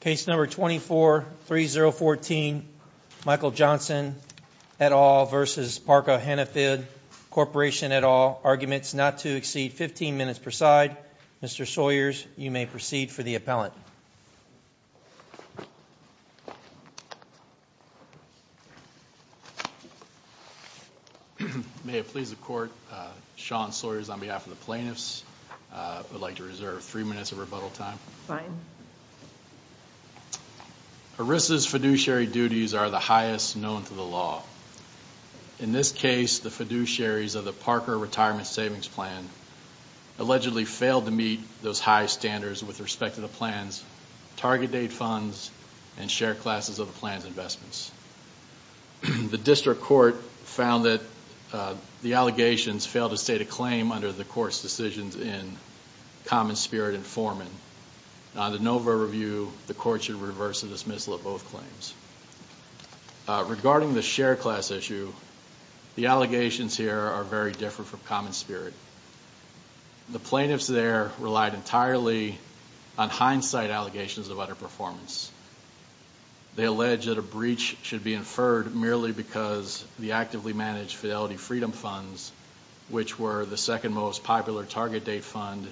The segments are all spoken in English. Case number 24-3014 Michael Johnson et al. v. Parker Hannifin Corporation et al. Arguments not to exceed 15 minutes per side. Mr. Sawyers, you may proceed for the appellant. May it please the court, Sean Sawyers on behalf of the plaintiffs would like to three minutes of rebuttal time. Fine. ERISA's fiduciary duties are the highest known to the law. In this case, the fiduciaries of the Parker Retirement Savings Plan allegedly failed to meet those high standards with respect to the plan's target date funds and share classes of the plan's investments. The district court found that the allegations failed to state a claim under the court's decisions in Common Spirit and Foreman. On the Nova review, the court should reverse the dismissal of both claims. Regarding the share class issue, the allegations here are very different from Common Spirit. The plaintiffs there relied entirely on hindsight allegations of utter performance. They allege that a breach should be inferred merely because the actively managed Fidelity Freedom funds, which were the second most popular target date fund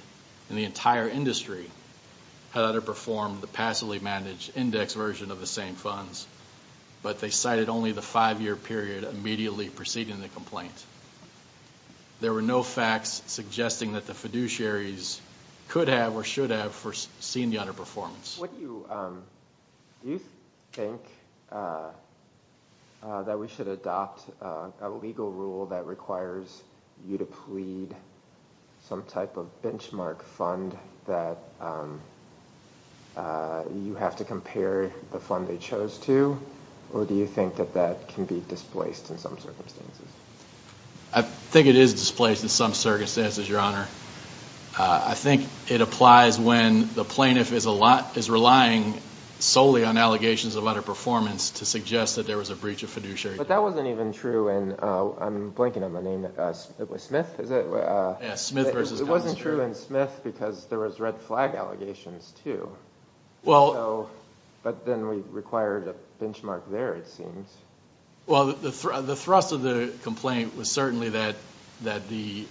in the entire industry, had underperformed the passively managed index version of the same funds, but they cited only the five-year period immediately preceding the complaint. There were no facts suggesting that the fiduciaries could have or should have foreseen the underperformance. Do you think that we should adopt a legal rule that requires you to plead some type of benchmark fund that you have to compare the fund they chose to, or do you think that that can be displaced in some circumstances? I think it is displaced in some circumstances, your honor. I think it applies when the plaintiff is relying solely on allegations of utter performance to suggest that there was a fiduciary. But that wasn't even true in, I'm blanking on the name, was it Smith? It wasn't true in Smith because there was red flag allegations, too. But then we required a benchmark there, it seems. Well, the thrust of the complaint was certainly that the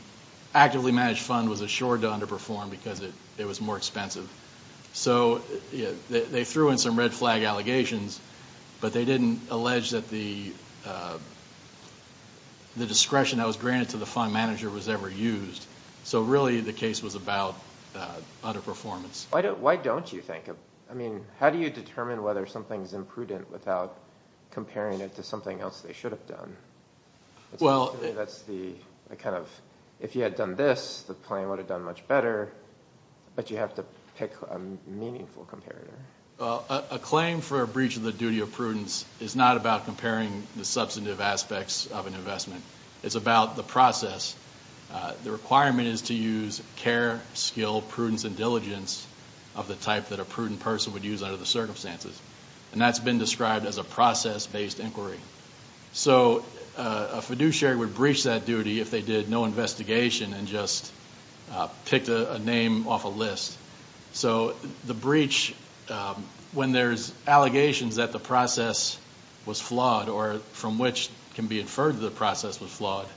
actively managed fund was assured to underperform because it was more expensive. So they threw in some red flag. The discretion that was granted to the fund manager was never used. So really the case was about utter performance. Why don't you think, I mean, how do you determine whether something's imprudent without comparing it to something else they should have done? Well, that's the kind of, if you had done this, the claim would have done much better, but you have to pick a meaningful comparator. A claim for a breach of the duty of prudence is not about comparing the substantive aspects of an investment. It's about the process. The requirement is to use care, skill, prudence, and diligence of the type that a prudent person would use under the circumstances. And that's been described as a process-based inquiry. So a fiduciary would breach that duty if they did no investigation and just picked a name off a list. So the breach, when there's allegations that the process was flawed or from which can be inferred the process was flawed,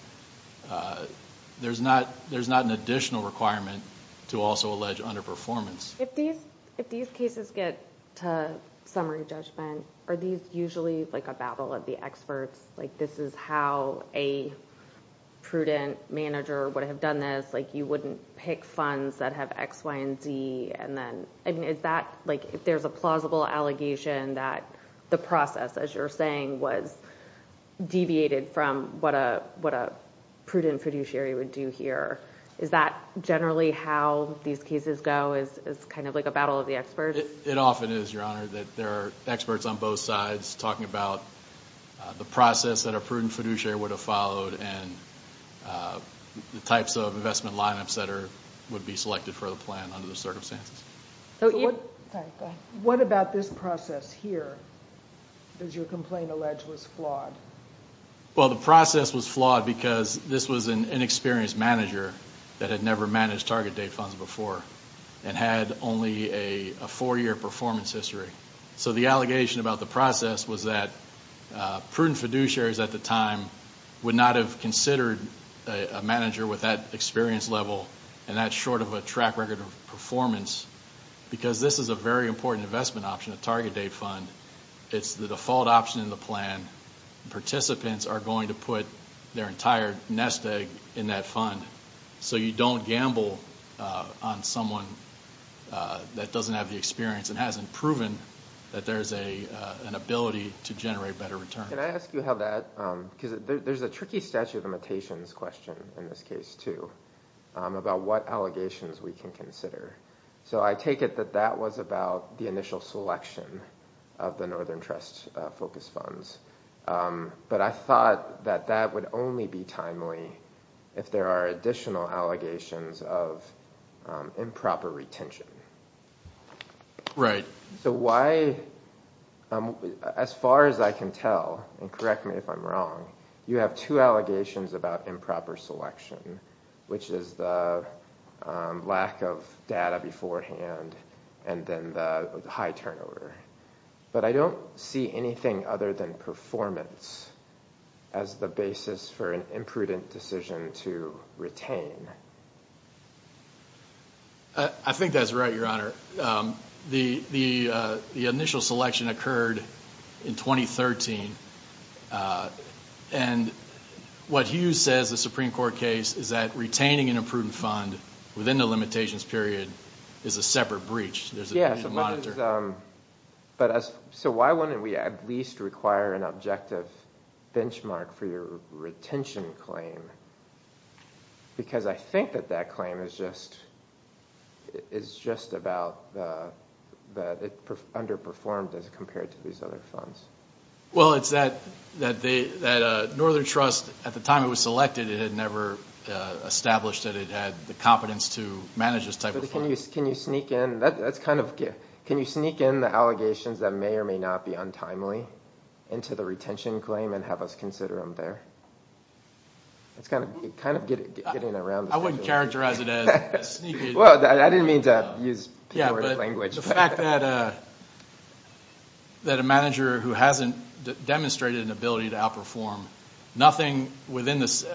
there's not an additional requirement to also allege underperformance. If these cases get to summary judgment, are these usually like a battle of the experts? This is how a prudent manager would have done this. You wouldn't pick funds that have X, Y, and Z. Is that... if there's a plausible allegation that the process, as you're saying, was deviated from what a prudent fiduciary would do here, is that generally how these cases go? Is it kind of like a battle of the experts? It often is, Your Honor, that there are experts on both sides talking about the process that a prudent fiduciary would have followed and the types of investment lineups that would be selected for the plan under the circumstances. What about this process here? Does your complaint allege was flawed? Well, the process was flawed because this was an inexperienced manager that had never managed target date funds before and had only a four-year performance history. So the allegation about the process was that prudent fiduciaries at the time would not have considered a manager with that experience level and that's short of a track record of performance because this is a very important investment option, a target date fund. It's the default option in the fund. So you don't gamble on someone that doesn't have the experience and hasn't proven that there's an ability to generate better returns. Can I ask you how that, because there's a tricky statute of limitations question in this case, too, about what allegations we can consider. So I take it that that was about the initial selection of the Northern Trust focus funds, but I thought that that would only be timely if there are additional allegations of improper retention. Right. So why, as far as I can tell, and correct me if I'm wrong, you have two allegations about improper selection, which is the lack of data beforehand and then the high turnover. But I don't see anything other than performance as the basis for an imprudent decision to retain. I think that's right, Your Honor. The initial selection occurred in 2013 and what Hughes says, the Supreme Court case, is that retaining an imprudent fund within the limitations period is a separate breach. Yeah, so why wouldn't we at least require an objective benchmark for your retention claim? Because I think that that claim is just about that it underperformed as compared to these other funds. Well, it's that Northern Trust, at the time it was selected, it had never established that it had the competence to manage this type of fund. Can you sneak in, that's kind of, can you sneak in the allegations that may or may not be untimely into the retention claim and have us consider them there? It's kind of getting around. I wouldn't characterize it as sneaking. Well, I didn't mean to use pejorative language. The fact that a manager who hasn't demonstrated an ability to outperform, nothing within this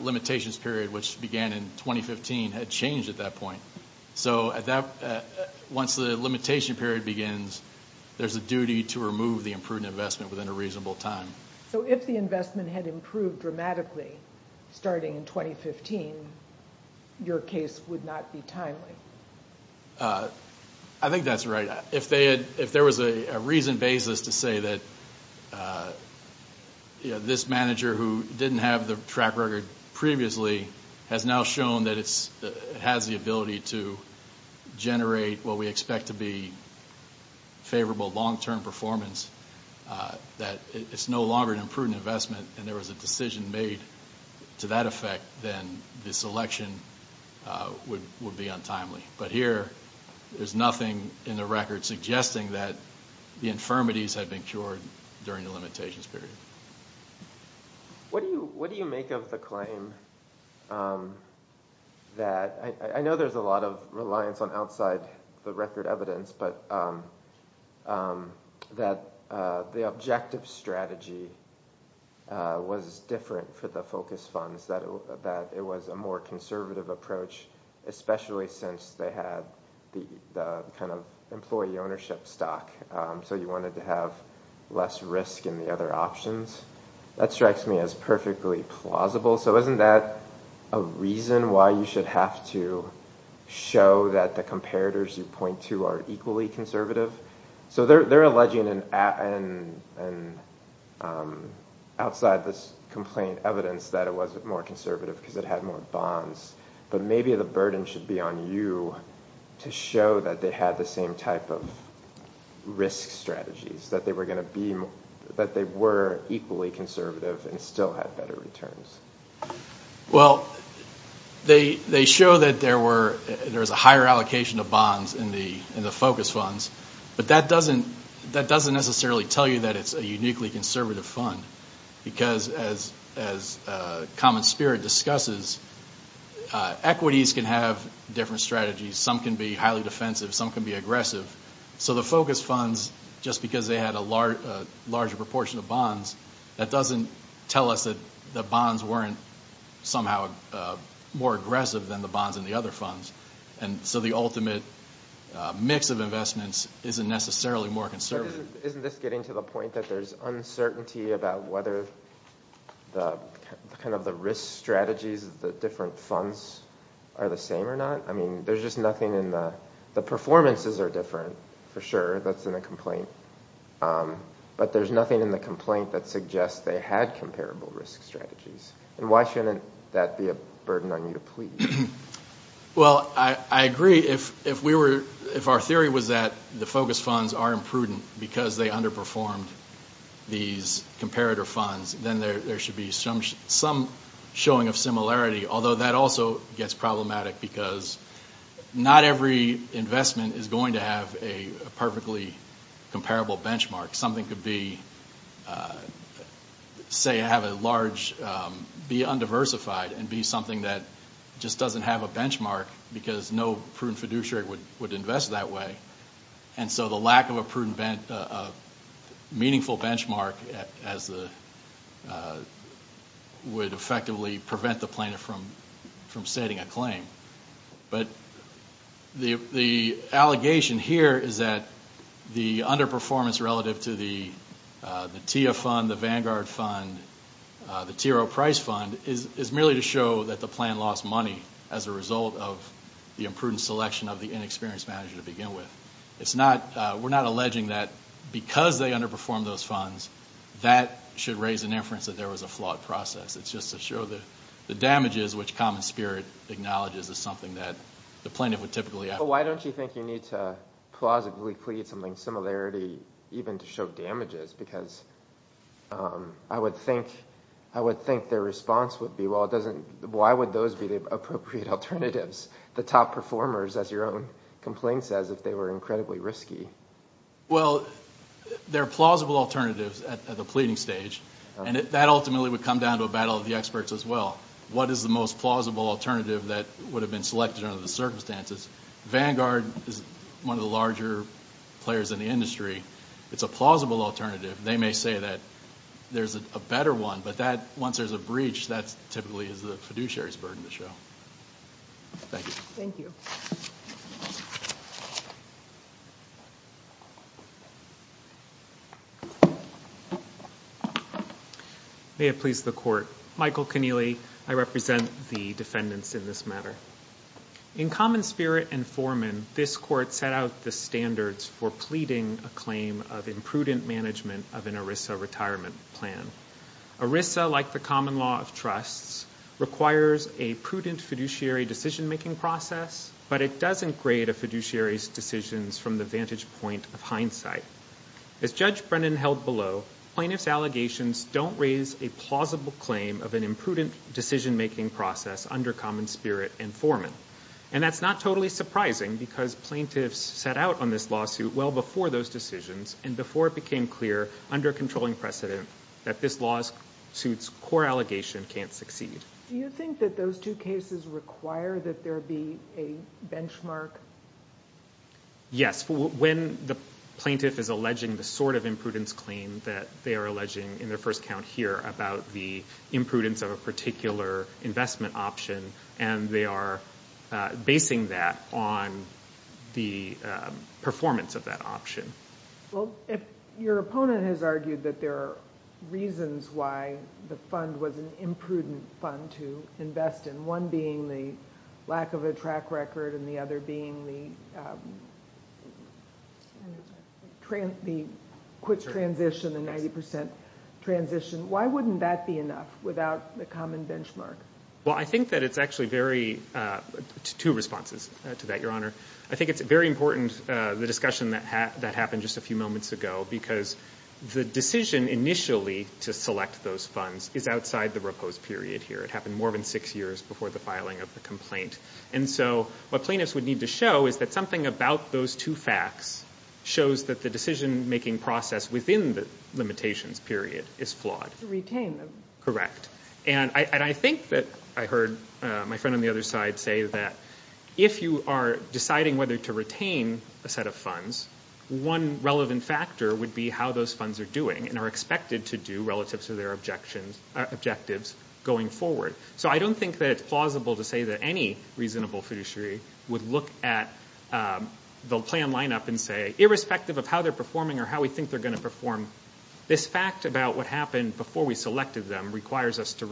limitations period, which began in 2015, had changed at that point. So at that point, once the limitation period begins, there's a duty to remove the imprudent investment within a reasonable time. So if the investment had improved dramatically starting in 2015, your case would not be timely? I think that's right. If there was a reason basis to say that this manager who didn't have the track record previously has now shown that it has the ability to generate what we expect to be favorable long-term performance, that it's no longer an imprudent investment and there was a decision made to that effect, then this election would be untimely. But here, there's nothing in the record suggesting that the infirmities had been cured during the limitations period. What do you make of the claim that, I know there's a lot of reliance on outside the record evidence, but that the objective strategy was different for the focus funds, that it was a more conservative approach, especially since they had the kind of employee ownership stock. So you wanted to have less risk in the other options. That strikes me as perfectly plausible. So isn't that a reason why you should have to show that the comparators you point to are equally conservative? So they're alleging outside this complaint evidence that it wasn't more conservative because it had more bonds, but maybe the burden should be on you to show that they had the same type of risk strategies, that they were equally conservative and still had better returns. Well, they show that there was a higher allocation of bonds in the focus funds, but that doesn't necessarily tell you that it's a uniquely conservative fund because, as Common Spirit discusses, equities can have different strategies. Some can be highly defensive, some can be aggressive. So the focus funds, just because they had a larger proportion of bonds, that doesn't tell us that the bonds weren't somehow more aggressive than the bonds in the other funds. And so the ultimate mix of investments isn't necessarily more conservative. Isn't this getting to the point that there's uncertainty about whether the kind of the risk strategies of the different funds are the same or not? I mean, there's just nothing in the... the performances are different, for sure. That's in a complaint. But there's nothing in the complaint that suggests they had comparable risk strategies. And why shouldn't that be a burden on you to plead? Well, I agree. If we were... if our theory was that the focus funds are imprudent because they underperformed these comparator funds, then there should be some showing of similarity. Although that also gets problematic because not every investment is going to have a perfectly comparable benchmark. Something could be, say, have a large... be undiversified and be something that just doesn't have a benchmark because no prudent fiduciary would invest that way. And so the lack of a prudent... a meaningful benchmark as the... would effectively prevent the planner from... from setting a claim. But the... the allegation here is that the underperformance relative to the... the TIA fund, the Vanguard fund, the TRO price fund, is merely to show that the plan lost money as a result of the imprudent selection of the inexperienced manager to begin with. It's not... we're not alleging that because they underperform those funds. That should raise an inference that there was a flawed process. It's just to show that the damages which common spirit acknowledges is something that the plaintiff would typically... Why don't you think you need to plausibly plead something similarity even to show damages? Because I would think... I would think their response would be, well, it doesn't... why would those be the appropriate alternatives? The top performers, as your own complaint says, if they were incredibly risky. Well, there are plausible alternatives at the pleading stage, and that ultimately would come down to a battle of the experts as well. What is the most plausible alternative that would have been selected under the circumstances? Vanguard is one of the larger players in the industry. It's a plausible alternative. They may say that there's a better one, but that... once there's a breach, that typically is the fiduciary's burden to show. Thank you. May it please the court. Michael Keneally, I represent the defendants in this matter. In common spirit and foreman, this court set out the standards for pleading a claim of imprudent management of an ERISA retirement plan. ERISA, like the common law of trusts, requires a prudent fiduciary decision-making process, but it doesn't grade a fiduciary's decisions from the vantage point of hindsight. As Judge Brennan held below, plaintiff's allegations don't raise a plausible claim of an imprudent decision-making process under common spirit and foreman. And that's not totally surprising, because plaintiffs set out on this lawsuit well before those decisions, and before it became clear, under controlling precedent, that this lawsuit's core allegation can't succeed. Do you think that those two cases require that there be a benchmark? Yes. When the plaintiff is alleging the sort of imprudence claim that they are alleging in their first count here about the imprudence of a particular investment option, and they are basing that on the performance of that option. Well, if your opponent has argued that there are reasons why the fund was an imprudent fund to invest in, one being the lack of a track record and the other being the quick transition, the 90% transition, why wouldn't that be enough without the common benchmark? Well, I think that it's actually very, two responses to that, Your Honor. I think it's very important, the discussion that happened just a few moments ago, because the decision initially to select those funds is outside the repose period here. It happened more than six years before the filing of the complaint. And so what plaintiffs would need to show is that something about those two facts shows that the decision-making process within the limitations period is flawed. To retain them. Correct. And I think that I heard my friend on the other side say that if you are deciding whether to retain a set of funds, one relevant factor would be how those funds are doing and are expected to do relative to their objectives going forward. So I don't think that it's plausible to say that any reasonable fiduciary would look at the plan lineup and say, irrespective of how they're performing or how we think they're going to perform, this fact about what happened before we selected them requires us to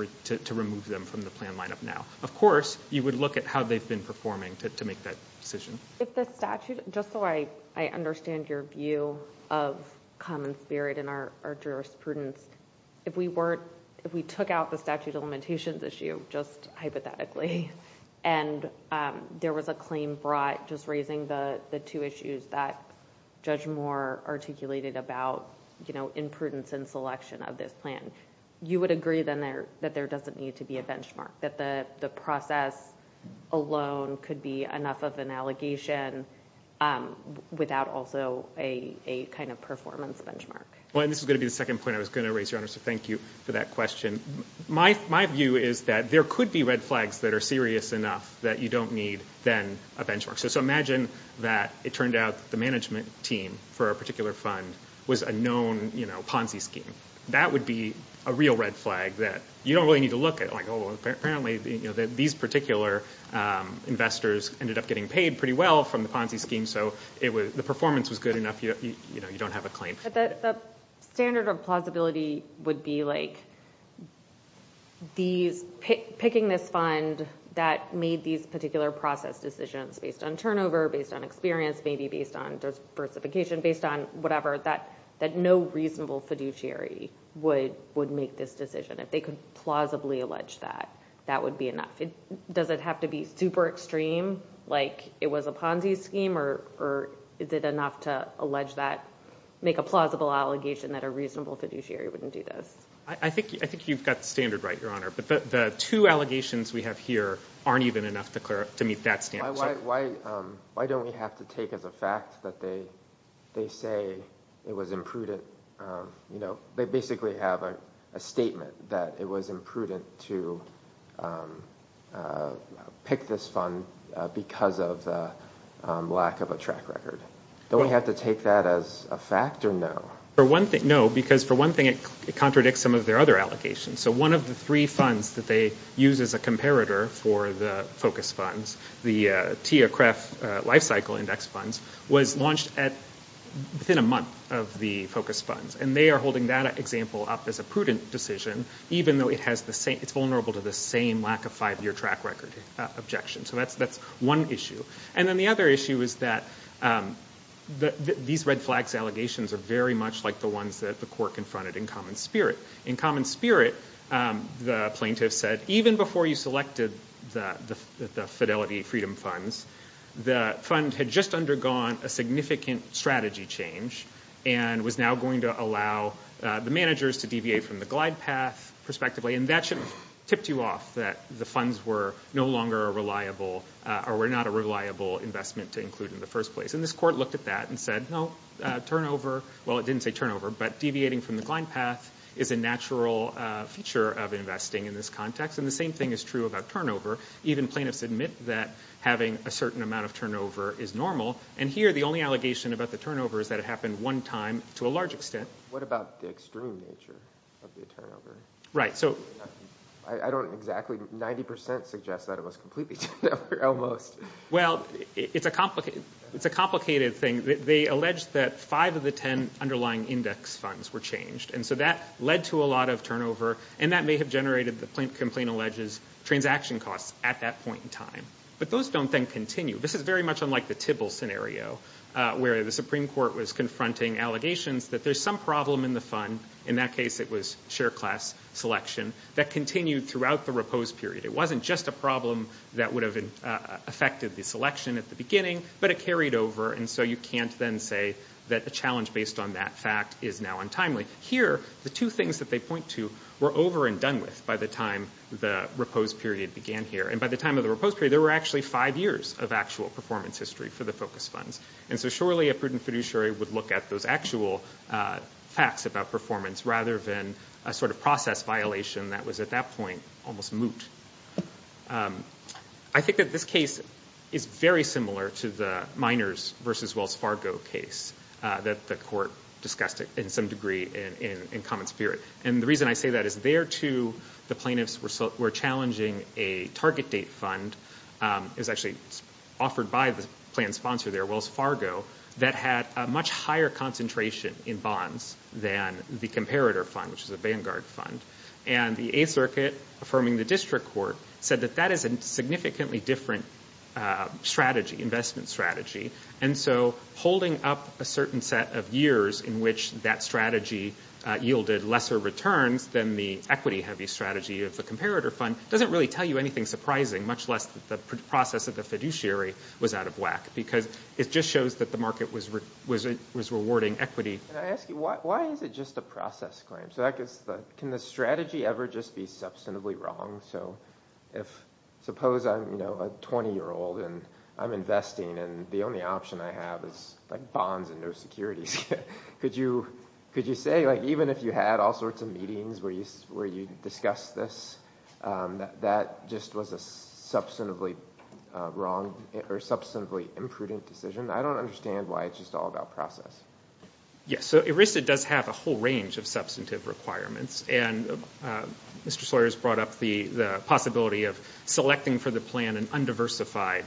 remove them from the plan lineup now. Of course, you would look at how they've been performing to make that decision. If the statute... just so I understand your view of common spirit in our jurisprudence, if we took out the statute of limitations issue, just hypothetically, and there was a claim brought just raising the two issues that Judge Moore articulated about imprudence in selection of this plan, you would agree that there doesn't need to be a benchmark, that the process alone could be enough of an allegation without also a kind of performance benchmark? Well, and this is going to be the second point I was going to raise, Your Honor, so thank you for that question. My view is that there could be red flags that are serious enough that you don't need, then, a benchmark. So imagine that it turned out the management team for a particular fund was a known Ponzi scheme. That would be a real red flag that you don't really need to look at. Like, oh, apparently these particular investors ended up getting paid pretty well from the Ponzi scheme, so the performance was good enough, you know, you don't have a claim. But the standard of plausibility would be, like, these... picking this fund that made these particular process decisions based on turnover, based on experience, maybe based on diversification, based on whatever, that no reasonable fiduciary would make this decision. If they could plausibly allege that, that would be enough. Does it have to be super extreme, like it was a Ponzi scheme, or is it enough to allege that, make a plausible allegation that a reasonable fiduciary wouldn't do this? I think you've got the standard right, Your Honor, but the two allegations we have here aren't even enough to meet that standard. Why don't we have to take as a fact that they say it was imprudent, you know, they basically have a statement that it was imprudent to pick this fund because of the lack of a track record. Don't we have to take that as a fact, or no? No, because for one thing it contradicts some of their other allegations. So one of the three funds that they use as a comparator for the focus funds, the TIA-CREF Life Cycle Index funds, was launched at, within a month of the focus funds, and they are holding that example up as a prudent decision, even though it has the same, it's vulnerable to the same lack of five year track record objection. So that's one issue. And then the other issue is that these red flags allegations are very much like the ones that the court confronted in common spirit. In common spirit, the plaintiff said, even before you selected the Fidelity Freedom funds, the fund had just undergone a significant strategy change and was now going to allow the managers to deviate from the glide path, prospectively, and that should have tipped you off that the funds were no longer a reliable, or were not a reliable investment to include in the first place. And this court looked at that and said, no, turnover, well it didn't say turnover, but deviating from the glide path is a natural feature of investing in this context, and the same thing is true about turnover. Even plaintiffs admit that having a certain amount of turnover is normal, and here the only allegation about the turnover is that it happened one time, to a large extent. What about the extreme nature of the turnover? Right, so. I don't exactly, 90% suggest that it was completely turnover, almost. Well, it's a complicated, it's a complicated thing. They alleged that five of the ten underlying index funds were changed, and so that led to a lot of turnover, and that may have generated, the complaint alleges, transaction costs at that point in time. But those don't then continue. This is very much unlike the Tibble scenario, where the Supreme Court was confronting allegations that there's some problem in the fund, in that case it was share class selection, that continued throughout the repose period. It wasn't just a problem that would have affected the selection at the beginning, but it carried over, and so you can't then say that the challenge based on that fact is now untimely. Here, the two things that they point to were over and done with by the time the repose period began here, and by the time of the repose period, there were actually five years of actual performance history for the focus funds, and so surely a prudent fiduciary would look at those actual facts about performance, rather than a sort of process violation that was at that point almost moot. I think that this case is very similar to the miners versus Wells Fargo case that the court discussed in some degree in common spirit, and the reason I say that is there, too, the plaintiffs were challenging a target date fund. It was actually offered by the plan sponsor there, Wells Fargo, that had a much higher concentration in bonds than the comparator fund, which is a Vanguard fund, and the Eighth Circuit, affirming the district court, said that that is a significantly different strategy, investment strategy, and so holding up a certain set of years in which that strategy yielded lesser returns than the equity-heavy strategy of the comparator fund doesn't really tell you anything surprising, much less that the process of the fiduciary was out of whack, because it just shows that the market was rewarding equity. Can I ask you, why is it just a process claim? Can the strategy ever just be substantively wrong? Suppose I'm a 20-year-old and I'm investing, and the only option I have is bonds and no securities. Could you say, even if you had all sorts of meetings where you discussed this, that just was a substantively wrong or substantively imprudent decision? I don't understand why it's just all about process. Yes, so ERISA does have a whole range of substantive requirements, and Mr. Sawyer's brought up the possibility of selecting for the plan an undiversified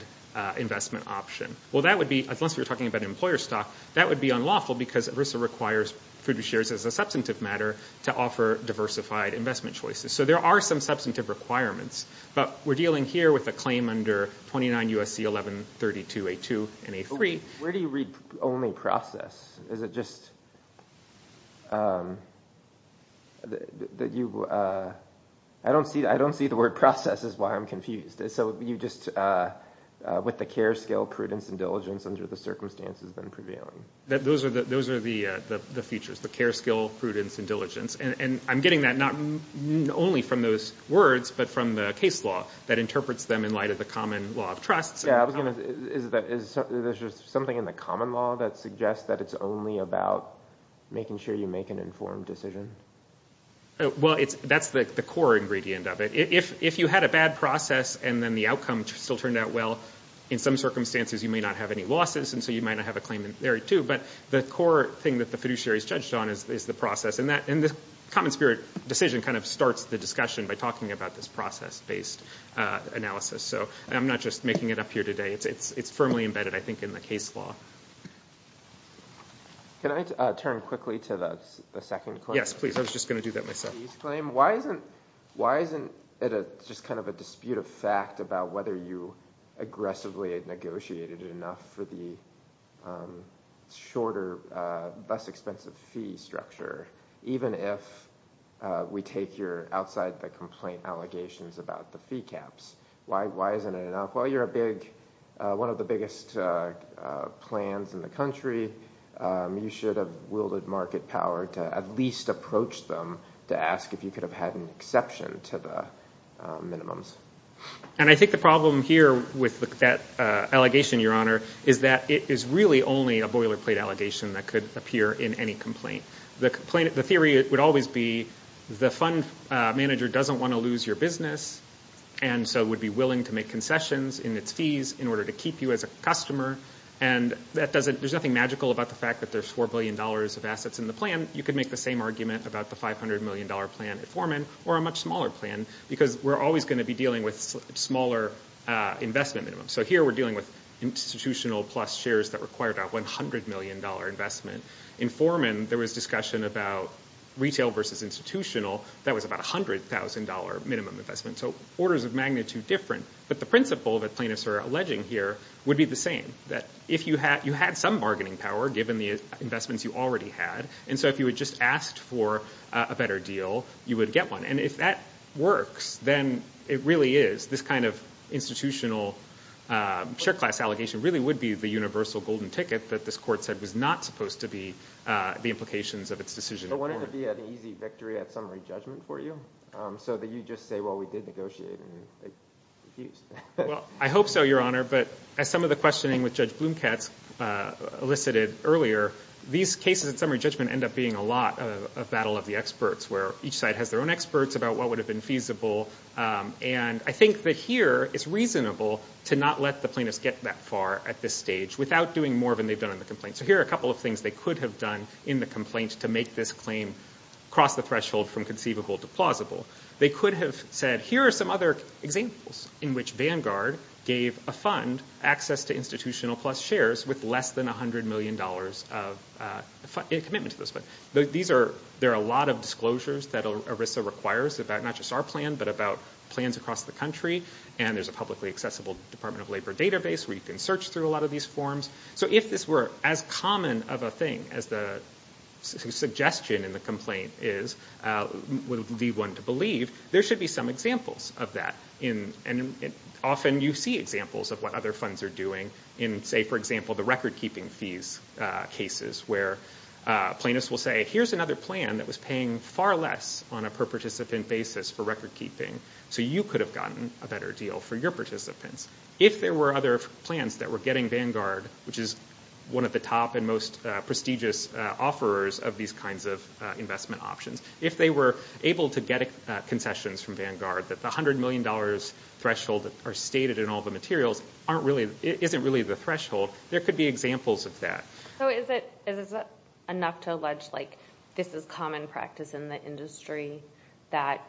investment option. Well, that would be, unless we were talking about employer stock, that would be unlawful, because ERISA requires fiduciaries, as a substantive matter, to offer diversified investment choices. So there are some substantive requirements, but we're dealing here with a claim under 29 U.S.C. 1132 A2 and A3. Where do you read only process? I don't see the word process is why I'm confused. So you just, with the care, skill, prudence, and diligence under the circumstances then prevailing. Those are the features, the care, skill, prudence, and diligence, and I'm getting that not only from those words, but from the case law that interprets them in light of the common law of that suggests that it's only about making sure you make an informed decision. Well, that's the core ingredient of it. If you had a bad process and then the outcome still turned out well, in some circumstances, you may not have any losses, and so you might not have a claim in there, too. But the core thing that the fiduciaries judged on is the process, and the common spirit decision kind of starts the discussion by talking about this process-based analysis. So I'm not just making it up here today. It's firmly embedded, I think, in the case law. Can I turn quickly to the second claim? Yes, please. I was just gonna do that myself. Why isn't it just kind of a dispute of fact about whether you aggressively negotiated enough for the shorter, less expensive fee structure, even if we take your outside the complaint allegations about the fee caps? Why isn't it enough? Well, you're one of the biggest plans in the country. You should have wielded market power to at least approach them to ask if you could have had an exception to the minimums. And I think the problem here with that allegation, Your Honor, is that it is really only a boilerplate allegation that could appear in any complaint. The theory would always be the fund manager doesn't want to lose your business, and so would be willing to make concessions in its fees in order to keep you as a customer, and there's nothing magical about the fact that there's four billion dollars of assets in the plan. You could make the same argument about the five hundred million dollar plan at Foreman, or a much smaller plan, because we're always going to be dealing with smaller investment minimums. So here we're dealing with institutional plus shares that require about 100 million dollar investment. In Foreman, there was discussion about retail versus institutional. That was about a hundred thousand dollar minimum investment, so orders of magnitude different. But the principle that plaintiffs are alleging here would be the same, that if you had some bargaining power, given the investments you already had, and so if you had just asked for a better deal, you would get one. And if that works, then it really is. This kind of institutional share class allegation really would be the universal golden ticket that this court said was not supposed to be the implications of its decision. But wouldn't it be an easy victory at summary judgment for you? So that you just say, well, we did negotiate, and they refused. Well, I hope so, Your Honor, but as some of the questioning with Judge Blumkatz elicited earlier, these cases at summary judgment end up being a lot of battle of the experts, where each side has their own experts about what would have been feasible. And I think that here it's reasonable to not let the plaintiffs get that far at this stage without doing more than they've done in the complaint. So here are a couple of things they could have done in the complaint to make this claim cross the threshold from conceivable to plausible. They could have said, here are some other examples in which Vanguard gave a fund, access to institutional plus shares, with less than a hundred million dollars in commitment to this fund. There are a lot of disclosures that ERISA requires about not just our plan, but about plans across the country, and there's a publicly accessible Department of Labor database where you can search through a lot of these forms. So if this were as common of a thing as the suggestion in the complaint is, would be one to believe, there should be some examples of that. And often you see examples of what other funds are doing in, say, for example, the record-keeping fees cases, where plaintiffs will say, here's another plan that was paying far less on a per-participant basis for record-keeping, so you could have gotten a better deal for your participants. If there were other plans that were getting Vanguard, which is one of the top and most prestigious offerers of these kinds of investment options, if they were able to get concessions from Vanguard, that the hundred million dollars threshold that are stated in all the materials isn't really the threshold, there could be examples of that. So is it enough to allege this is common practice in the industry, that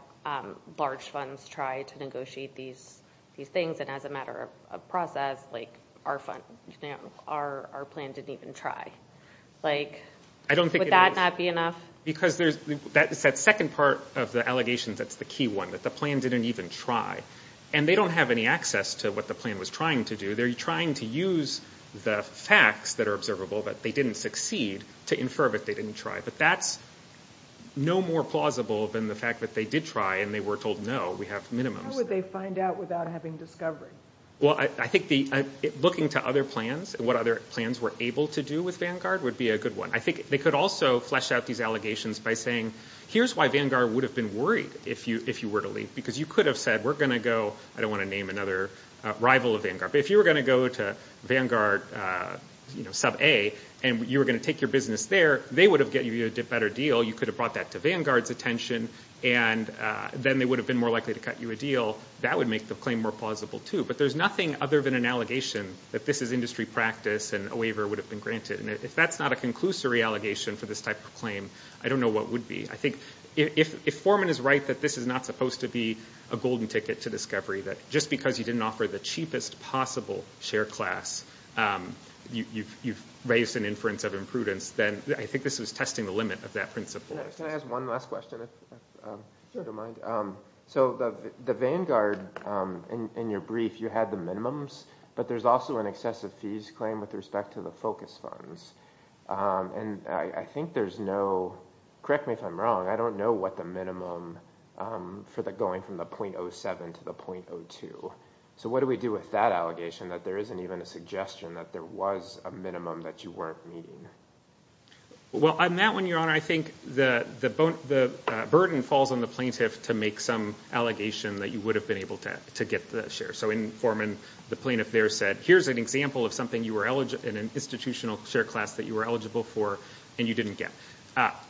large funds try to negotiate these things, and as a matter of process, our plan didn't even try? Would that not be enough? Because that second part of the allegations, that's the key one, that the plan didn't even try. And they don't have any access to what the plan was trying to do. They're trying to use the facts that are observable that they didn't succeed to infer that they didn't try. But that's no more plausible than the fact that they did try and they were told, no, we have minimums. How would they find out without having discovery? Well, I think looking to other plans, what other plans were able to do with Vanguard would be a good one. I think they could also flesh out these allegations by saying, here's why Vanguard would have been worried if you were to leave. Because you could have said, we're going to go, I don't want to name another rival of Vanguard, but if you were going to go to Vanguard Sub-A and you were going to take your business there, they would have given you a better deal. You could have brought that to Vanguard's attention, and then they would have been more likely to cut you a deal. That would make the claim more plausible, too. But there's nothing other than an allegation that this is industry practice and a waiver would have been granted. And if that's not a conclusory allegation for this type of claim, I don't know what would be. I think if Foreman is right that this is not supposed to be a golden ticket to discovery, that just because you didn't offer the cheapest possible share class, you've raised an inference of imprudence, then I think this was testing the limit of that principle. Can I ask one last question, if you don't mind? So the Vanguard, in your brief, you had the minimums, but there's also an excessive fees claim with respect to the focus funds. And I think there's no, correct me if I'm wrong, I don't know what the minimum for the going from the 0.07 to the 0.02. So what do we do with that allegation that there isn't even a suggestion that there was a minimum that you weren't meeting? Well, on that one, Your Honor, I think the burden falls on the plaintiff to make some allegation that you would have been able to get the share. So in Foreman, the plaintiff there said, here's an example of something in an institutional share class that you were eligible for and you didn't get.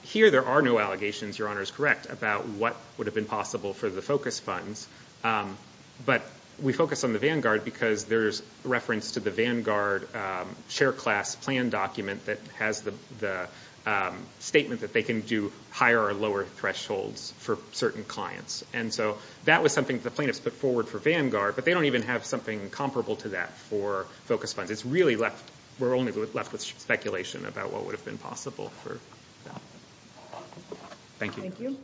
Here there are no allegations, Your Honor is correct, about what would have been possible for the focus funds. But we focus on the Vanguard because there's reference to the Vanguard share class plan document that has the statement that they can do higher or lower thresholds for certain clients. And so that was something the plaintiffs put forward for Vanguard, but they don't even have something comparable to that for focus funds. It's really left, we're only left with speculation about what would have been possible. Thank you.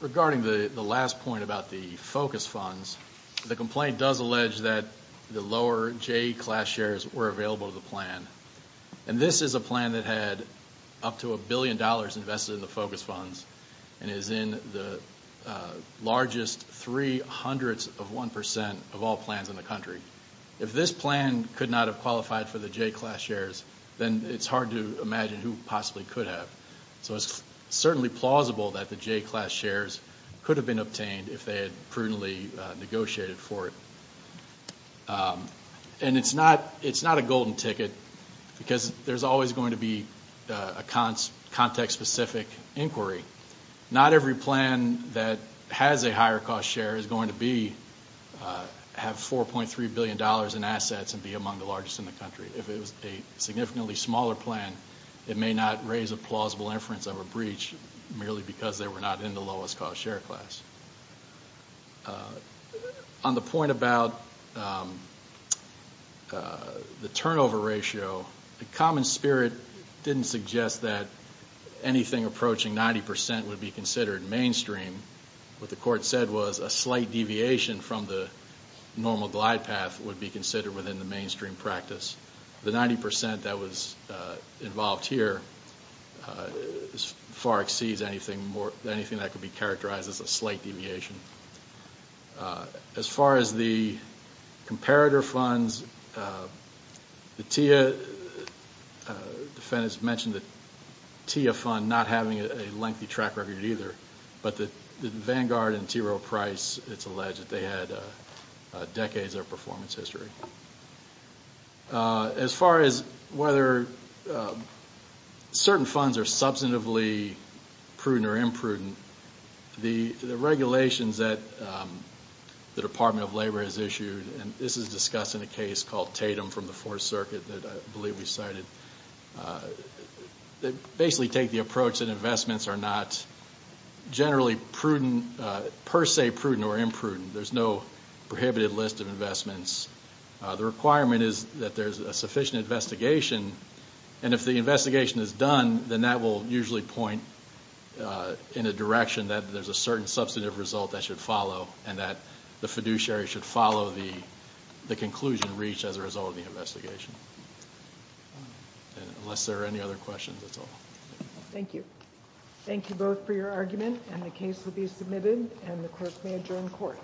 Regarding the last point about the focus funds, the complaint does allege that the lower J class shares were available to the plan. And this is a plan that had up to a billion dollars invested in the focus funds and is in the largest three hundredths of one percent of all plans in the country. If this plan could not have qualified for the J class shares, then it's hard to imagine who possibly could have. So it's certainly plausible that the J class shares could have been obtained if they had prudently negotiated for it. And it's not a golden ticket because there's always going to be a context-specific inquiry. Not every plan that has a higher cost share is going to have 4.3 billion dollars in assets and be among the largest in the country. If it was a significantly smaller plan, it may not raise a plausible inference of a breach, merely because they were not in the lowest cost share class. On the point about the turnover ratio, the common spirit didn't suggest that anything approaching ninety percent would be considered mainstream. What the court said was a slight deviation from the normal glide path would be considered within the mainstream practice. The ninety percent that was involved here far exceeds anything that could be characterized as a slight deviation. As far as the comparator funds, the TIA defendants mentioned the TIA fund not having a lengthy track record either, but the Vanguard and T. Rowe Price, it's alleged that they had decades of performance history. As far as whether certain funds are substantively prudent or imprudent, the regulations that the Department of Labor has issued, and this is discussed in a case called Tatum from the Fourth Circuit that I believe we cited, they basically take the approach that investments are not generally per se prudent or imprudent. There's no prohibited list of investments. The requirement is that there's a sufficient investigation, and if the investigation is done, then that will usually point in a direction that there's a certain substantive result that should follow and that the fiduciary should follow the conclusion reached as a result of the investigation. Unless there are any other questions, that's all. Thank you. Thank you both for your argument and the case will be submitted and the clerk may adjourn court.